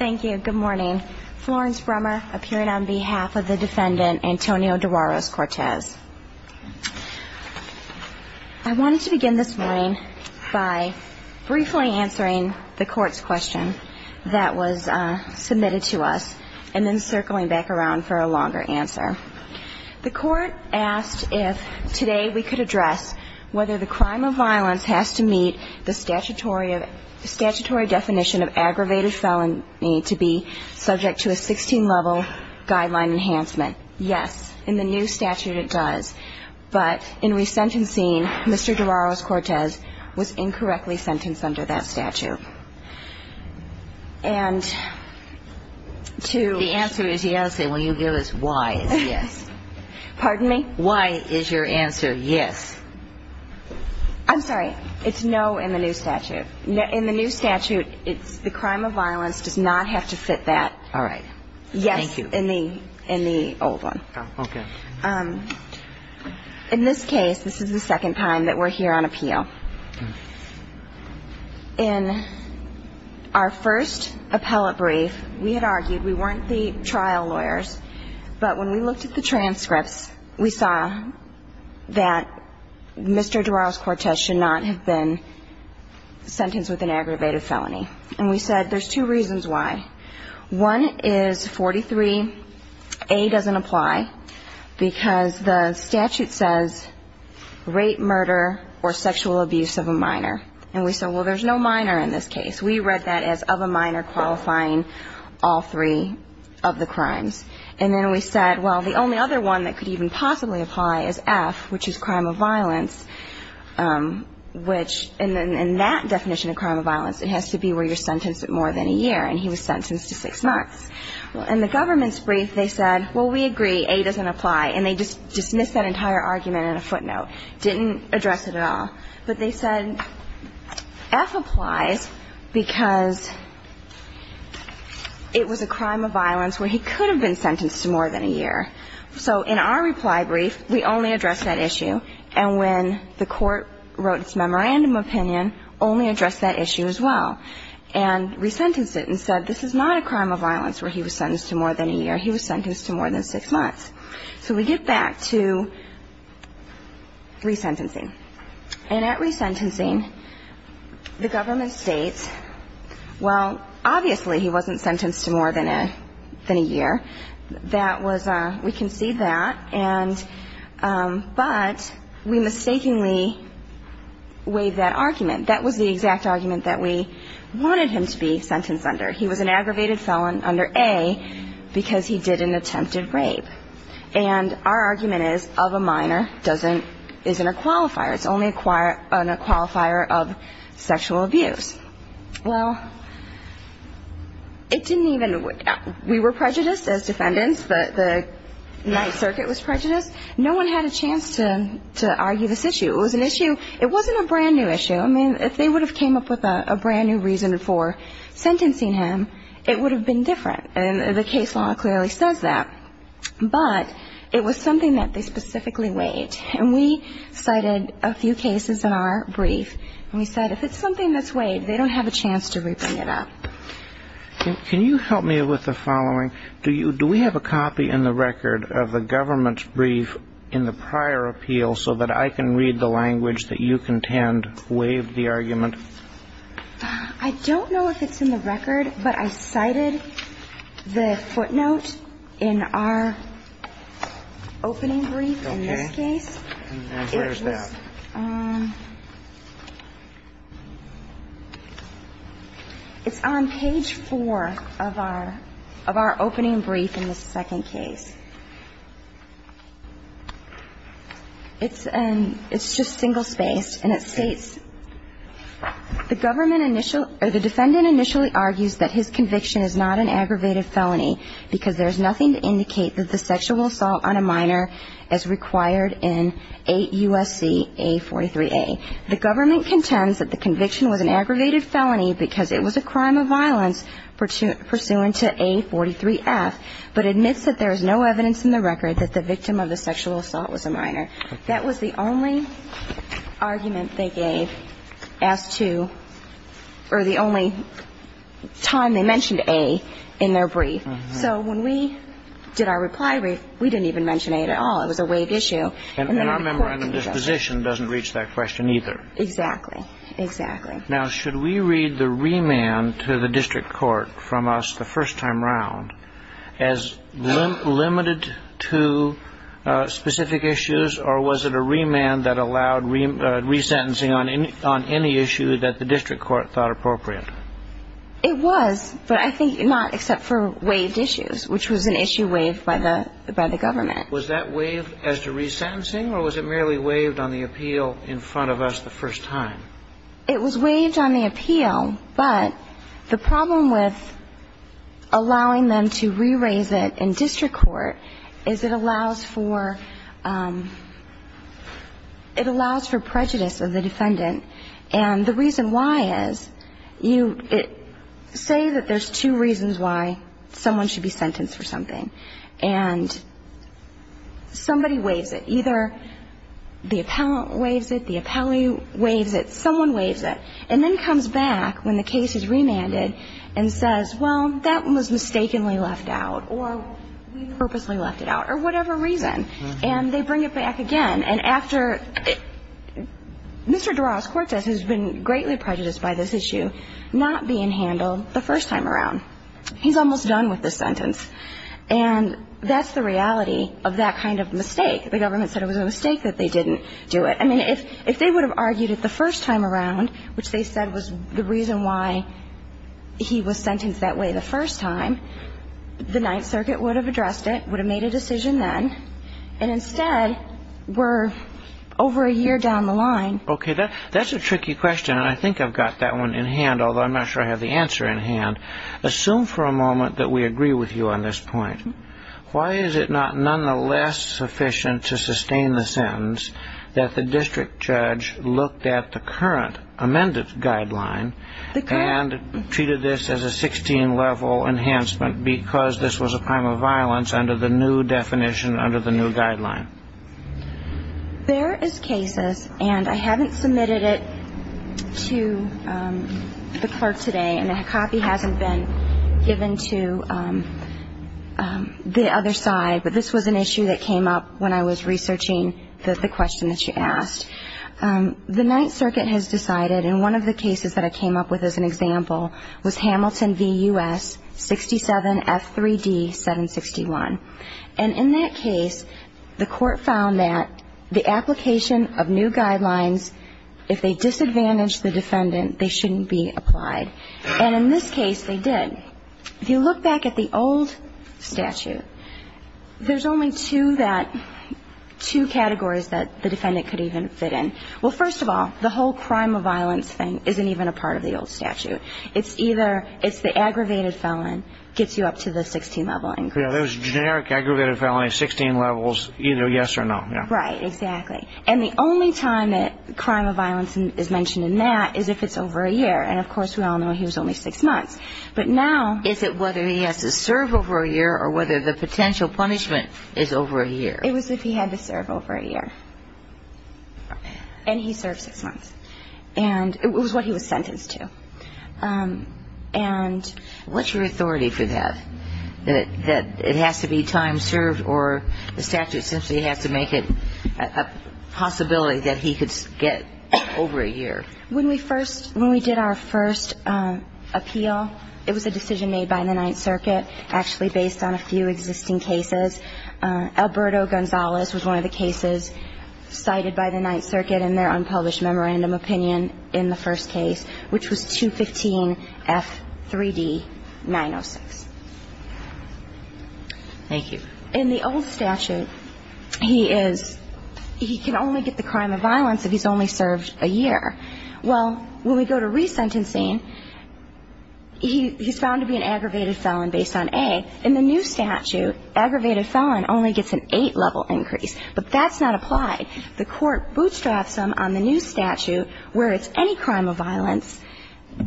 I wanted to begin this morning by briefly answering the court's question that was submitted to us, and then circling back around for a longer answer. The court asked if today we could address whether the crime of violence has to meet the statutory definition of aggravated felon to be subject to a 16-level guideline enhancement. Yes, in the new statute it does. But in resentencing, Mr. Deagueros-Cortes was incorrectly sentenced under that statute. The answer is yes, and when you give us why, it's yes. Pardon me? Why is your answer yes? I'm sorry. It's no in the new statute. In the new statute, it's the crime of violence does not have to fit that. All right. Thank you. Yes, in the old one. Okay. In this case, this is the second time that we're here on appeal. In our first appellate brief, we had argued we weren't the trial lawyers, but when we looked at the transcripts, we saw that Mr. Deagueros-Cortes should not have been sentenced with an aggravated felony. And we said there's two reasons why. One is 43A doesn't apply because the statute says rape, murder or sexual abuse of a minor. And we said, well, there's no minor in this case. We read that as of a minor qualifying all three of the crimes. And then we said, well, the only other one that could even possibly apply is F, which is crime of violence, which in that definition of crime of violence, it has to be where you're sentenced to more than a year. And he was sentenced to six months. Well, in the government's brief, they said, well, we agree, A doesn't apply. And they just dismissed that entire argument in a footnote, didn't address it at all. But they said F applies because it was a crime of violence where he could have been sentenced to more than a year. So in our reply brief, we only addressed that issue. And when the court wrote its memorandum opinion, only addressed that issue as well and resentenced it and said, this is not a crime of violence where he was sentenced to more than a year. He was sentenced to more than six months. So we get back to resentencing. And at resentencing, the government states, well, obviously he wasn't sentenced to more than a year. We concede that. But we mistakenly waived that argument. That was the exact argument that we wanted him to be sentenced under. He was an aggravated felon under A because he did an attempted rape. And our argument is of a minor isn't a qualifier. It's only a qualifier of sexual abuse. Well, it didn't even, we were prejudiced as defendants. The Ninth Circuit was prejudiced. No one had a chance to argue this issue. It was an issue, it wasn't a brand-new issue. I mean, if they would have came up with a brand-new reason for sentencing him, it would have been different. And the case law clearly says that. But it was something that they specifically waived. And we cited a few cases in our brief. And we said if it's something that's waived, they don't have a chance to bring it up. Can you help me with the following? Do we have a copy in the record of the government's brief in the prior appeal so that I can read the language that you contend waived the argument? I don't know if it's in the record, but I cited the footnote in our opening brief in this case. And where is that? It's on page four of our opening brief in this second case. It's just single-spaced, and it states, The defendant initially argues that his conviction is not an aggravated felony because there's nothing to indicate that the sexual assault on a minor is required in 8 U.S.C. A43A. The government contends that the conviction was an aggravated felony because it was a crime of violence pursuant to A43F, but admits that there is no evidence in the record that the victim of the sexual assault was a minor. That was the only argument they gave as to or the only time they mentioned A in their brief. So when we did our reply brief, we didn't even mention A at all. It was a waived issue. And our member on the disposition doesn't reach that question either. Exactly. Now, should we read the remand to the district court from us the first time around as limited to specific issues, or was it a remand that allowed resentencing on any issue that the district court thought appropriate? It was, but I think not except for waived issues, which was an issue waived by the government. Was that waived as to resentencing, or was it merely waived on the appeal in front of us the first time? It was waived on the appeal, but the problem with allowing them to re-raise it in district court is it allows for prejudice of the defendant. And the reason why is you say that there's two reasons why someone should be sentenced for something. And somebody waives it. Either the appellant waives it, the appellee waives it, someone waives it, and then comes back when the case is remanded and says, well, that one was mistakenly left out, or we purposely left it out, or whatever reason. And they bring it back again. And after Mr. Duras-Cortez, who's been greatly prejudiced by this issue, not being handled the first time around. He's almost done with this sentence. And that's the reality of that kind of mistake. The government said it was a mistake that they didn't do it. I mean, if they would have argued it the first time around, which they said was the reason why he was sentenced that way the first time, the Ninth Circuit would have addressed it, would have made a decision then. And instead, we're over a year down the line. Okay. That's a tricky question, and I think I've got that one in hand, although I'm not sure I have the answer in hand. Assume for a moment that we agree with you on this point. Why is it not nonetheless sufficient to sustain the sentence that the district judge looked at the current amended guideline and treated this as a 16-level enhancement because this was a crime of violence under the new definition, under the new guideline? There is cases, and I haven't submitted it to the clerk today, and a copy hasn't been given to the other side, but this was an issue that came up when I was researching the question that you asked. The Ninth Circuit has decided, and one of the cases that I came up with as an example was Hamilton v. U.S., 67F3D761. And in that case, the court found that the application of new guidelines, if they disadvantaged the defendant, they shouldn't be applied. And in this case, they did. If you look back at the old statute, there's only two categories that the defendant could even fit in. Well, first of all, the whole crime of violence thing isn't even a part of the old statute. It's either it's the aggravated felon gets you up to the 16-level increase. Yeah, those generic aggravated felonies, 16 levels, either yes or no. Right, exactly. And the only time that crime of violence is mentioned in that is if it's over a year. And, of course, we all know he was only six months. But now... Is it whether he has to serve over a year or whether the potential punishment is over a year? It was if he had to serve over a year. And he served six months. And it was what he was sentenced to. And... What's your authority for that, that it has to be time served or the statute essentially has to make it a possibility that he could get over a year? When we did our first appeal, it was a decision made by the Ninth Circuit, actually based on a few existing cases. Alberto Gonzalez was one of the cases cited by the Ninth Circuit in their unpublished memorandum opinion in the first case, which was 215F3D906. Thank you. In the old statute, he is ñ he can only get the crime of violence if he's only served a year. Well, when we go to resentencing, he's found to be an aggravated felon based on A. In the new statute, aggravated felon only gets an 8-level increase. But that's not applied. The court bootstraps him on the new statute where it's any crime of violence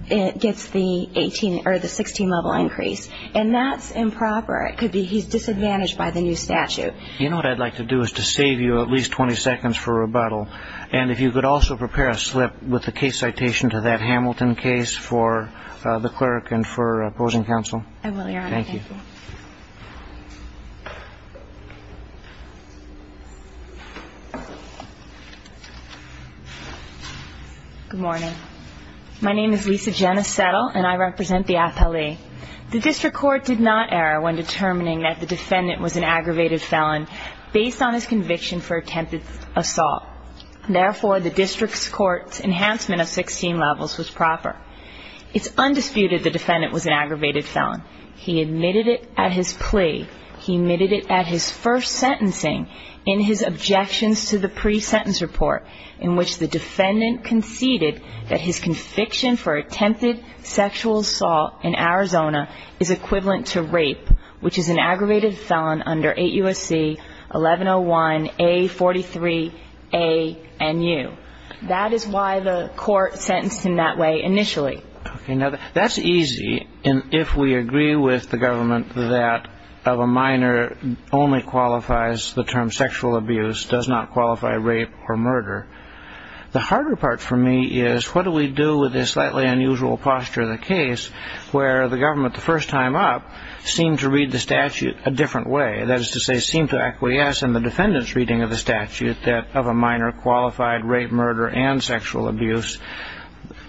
gets the 16-level increase. And that's improper. It could be he's disadvantaged by the new statute. You know what I'd like to do is to save you at least 20 seconds for rebuttal. And if you could also prepare a slip with the case citation to that Hamilton case for the clerk and for opposing counsel. I will, Your Honor. Thank you. Good morning. My name is Lisa Jenna Settle, and I represent the appellee. The district court did not err when determining that the defendant was an aggravated felon based on his conviction for attempted assault. Therefore, the district court's enhancement of 16 levels was proper. It's undisputed the defendant was an aggravated felon. He admitted it at his plea. He admitted it at his first sentencing in his objections to the pre-sentence report, in which the defendant conceded that his conviction for attempted sexual assault in Arizona is equivalent to rape, which is an aggravated felon under 8 U.S.C. 1101A43ANU. That is why the court sentenced him that way initially. Okay. Now, that's easy if we agree with the government that of a minor only qualifies the term sexual abuse, does not qualify rape or murder. The harder part for me is what do we do with the slightly unusual posture of the case where the government the first time up seemed to read the statute a different way, that is to say, seemed to acquiesce in the defendant's reading of the statute that of a minor qualified rape, murder, and sexual abuse.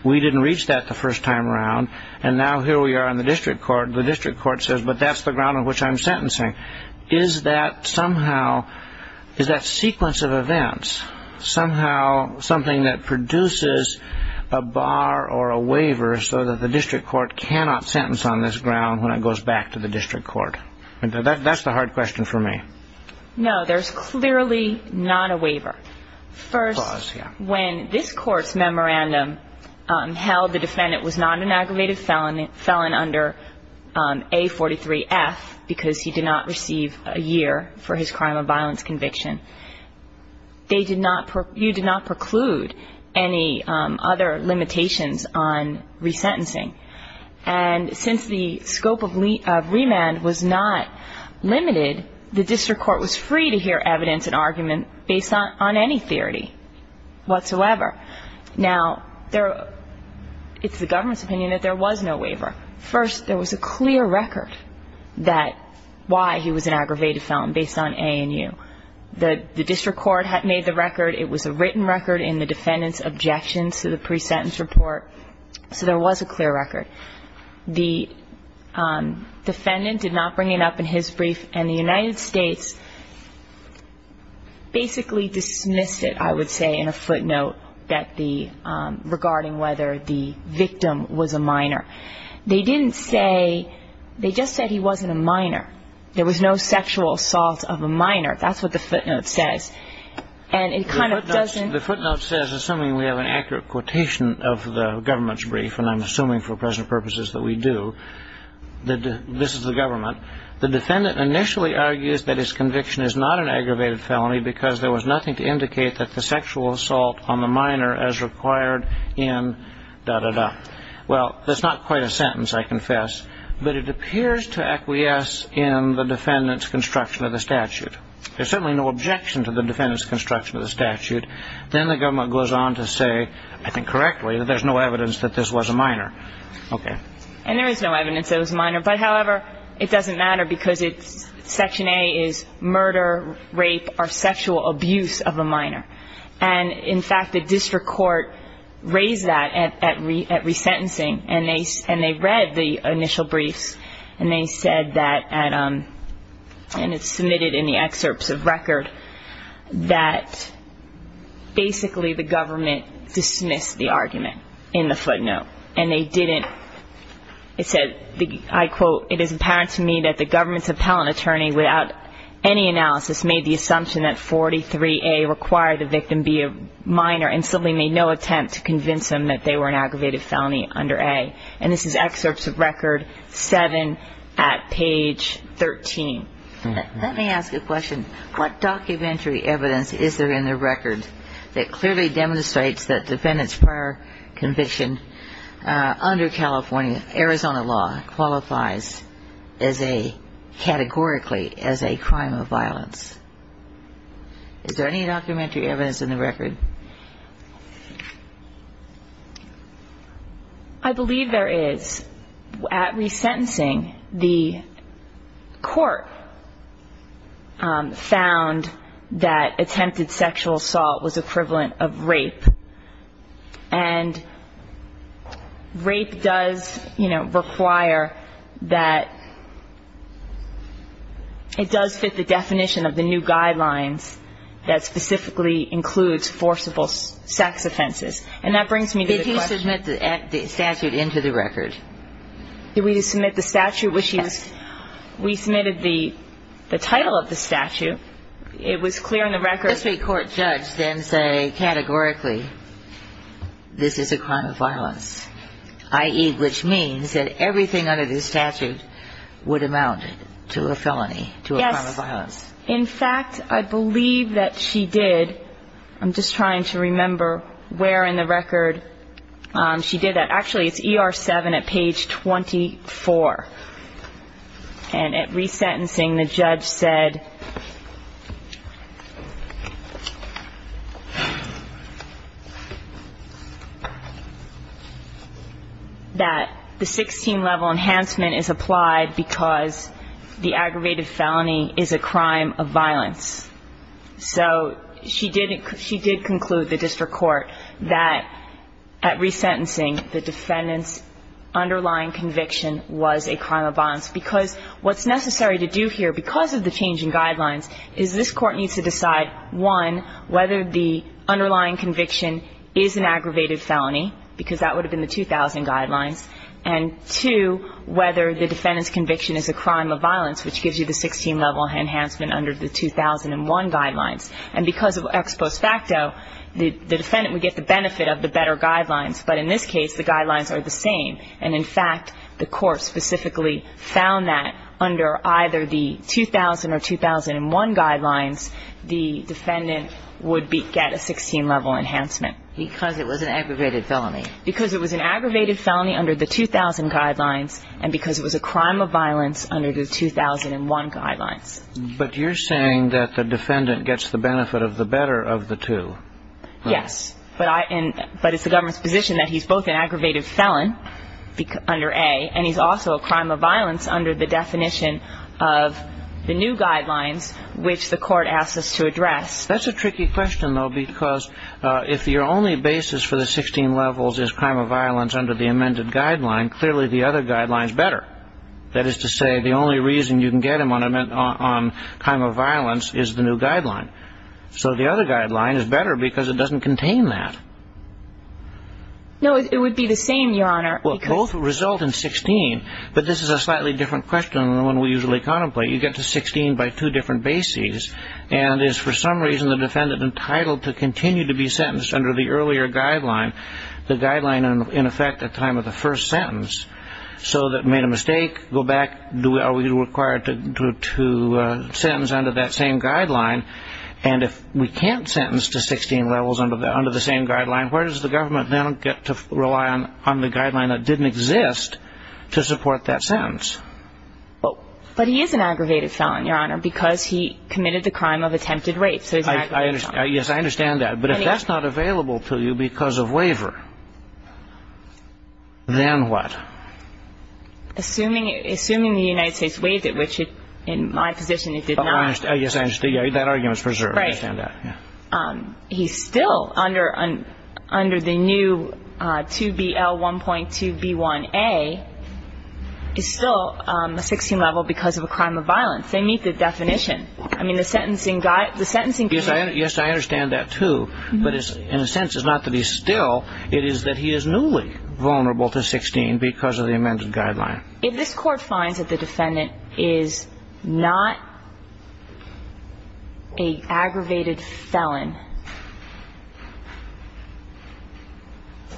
We didn't reach that the first time around, and now here we are in the district court. The district court says, but that's the ground on which I'm sentencing. Is that somehow, is that sequence of events somehow something that produces a bar or a waiver so that the district court cannot sentence on this ground when it goes back to the district court? That's the hard question for me. No, there's clearly not a waiver. First, when this court's memorandum held the defendant was not an aggravated felon under A43F because he did not receive a year for his crime of violence conviction, you did not preclude any other limitations on resentencing. And since the scope of remand was not limited, the district court was free to hear evidence and argument based on any theory whatsoever. Now, it's the government's opinion that there was no waiver. First, there was a clear record that why he was an aggravated felon based on A and U. The district court had made the record. It was a written record in the defendant's objections to the pre-sentence report, so there was a clear record. The defendant did not bring it up in his brief, and the United States basically dismissed it, I would say, in a footnote regarding whether the victim was a minor. They didn't say, they just said he wasn't a minor. There was no sexual assault of a minor. That's what the footnote says. The footnote says, assuming we have an accurate quotation of the government's brief, and I'm assuming for present purposes that we do, that this is the government, the defendant initially argues that his conviction is not an aggravated felony because there was nothing to indicate that the sexual assault on the minor as required in da-da-da. Well, that's not quite a sentence, I confess, but it appears to acquiesce in the defendant's construction of the statute. There's certainly no objection to the defendant's construction of the statute. Then the government goes on to say, I think correctly, that there's no evidence that this was a minor. Okay. And there is no evidence it was a minor. But, however, it doesn't matter because Section A is murder, rape, or sexual abuse of a minor. And, in fact, the district court raised that at resentencing, and they read the initial briefs, and they said that, and it's submitted in the excerpts of record, that basically the government dismissed the argument in the footnote. And they didn't. It said, I quote, It is apparent to me that the government's appellant attorney, without any analysis, made the assumption that 43A required the victim be a minor and simply made no attempt to convince them that they were an aggravated felony under A. And this is excerpts of record 7 at page 13. Let me ask a question. What documentary evidence is there in the record that clearly demonstrates that defendants prior conviction under California, Arizona law, qualifies as a, categorically, as a crime of violence? Is there any documentary evidence in the record? I believe there is. At resentencing, the court found that attempted sexual assault was equivalent of rape. And rape does, you know, require that it does fit the definition of the new guidelines that specifically includes forcible sex offenses. And that brings me to the question. Did he submit the statute into the record? Did we submit the statute? We submitted the title of the statute. It was clear in the record. Does a court judge then say, categorically, this is a crime of violence, i.e., which means that everything under this statute would amount to a felony, to a crime of violence? In fact, I believe that she did. I'm just trying to remember where in the record she did that. Actually, it's ER 7 at page 24. And at resentencing, the judge said that the 16-level enhancement is applied because the aggravated felony is a crime of violence. So she did conclude, the district court, that at resentencing, the defendant's underlying conviction was a crime of violence. Because what's necessary to do here, because of the changing guidelines, is this court needs to decide, one, whether the underlying conviction is an aggravated felony, because that would have been the 2000 guidelines, and, two, whether the defendant's conviction is a crime of violence, which gives you the 16-level enhancement under the 2001 guidelines. And because of ex post facto, the defendant would get the benefit of the better guidelines. But in this case, the guidelines are the same. And, in fact, the court specifically found that under either the 2000 or 2001 guidelines, the defendant would get a 16-level enhancement. Because it was an aggravated felony. Because it was an aggravated felony under the 2000 guidelines and because it was a crime of violence under the 2001 guidelines. But you're saying that the defendant gets the benefit of the better of the two. Yes. But it's the government's position that he's both an aggravated felon under A, and he's also a crime of violence under the definition of the new guidelines, which the court asked us to address. That's a tricky question, though, because if your only basis for the 16 levels is crime of violence under the amended guideline, clearly the other guideline is better. That is to say, the only reason you can get him on crime of violence is the new guideline. So the other guideline is better because it doesn't contain that. No, it would be the same, Your Honor. Well, both result in 16. But this is a slightly different question than the one we usually contemplate. You get to 16 by two different bases. And is, for some reason, the defendant entitled to continue to be sentenced under the earlier guideline, the guideline in effect at the time of the first sentence. So that made a mistake, go back, are we required to sentence under that same guideline? And if we can't sentence to 16 levels under the same guideline, where does the government now get to rely on the guideline that didn't exist to support that sentence? But he is an aggravated felon, Your Honor, because he committed the crime of attempted rape. So he's an aggravated felon. Yes, I understand that. But if that's not available to you because of waiver, then what? Assuming the United States waived it, which in my position it did not. Yes, I understand. That argument is preserved. Right. I understand that. He's still under the new 2BL 1.2B1A. He's still a 16 level because of a crime of violence. They meet the definition. I mean, the sentencing guideline. Yes, I understand that, too. But in a sense it's not that he's still. It is that he is newly vulnerable to 16 because of the amended guideline. If this Court finds that the defendant is not an aggravated felon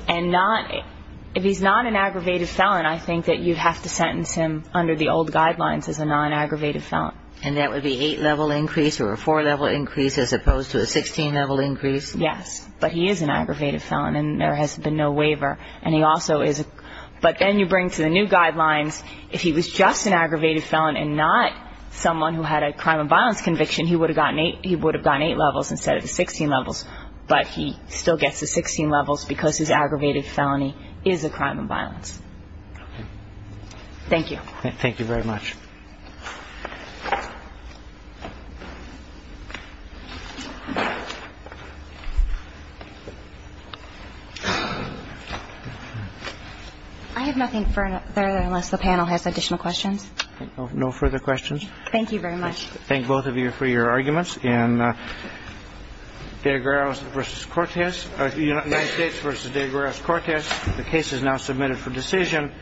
and not – if he's not an aggravated felon, I think that you have to sentence him under the old guidelines as a non-aggravated felon. And that would be an 8-level increase or a 4-level increase as opposed to a 16-level increase? Yes. But he is an aggravated felon and there has been no waiver. And he also is – but then you bring to the new guidelines, if he was just an aggravated felon and not someone who had a crime of violence conviction, he would have gotten 8 levels instead of the 16 levels. But he still gets the 16 levels because his aggravated felony is a crime of violence. Okay. Thank you. Thank you very much. I have nothing further unless the panel has additional questions. No further questions. Thank you very much. Thank both of you for your arguments. And DeGraus v. Cortez – United States v. DeGraus-Cortez, the case is now submitted for decision.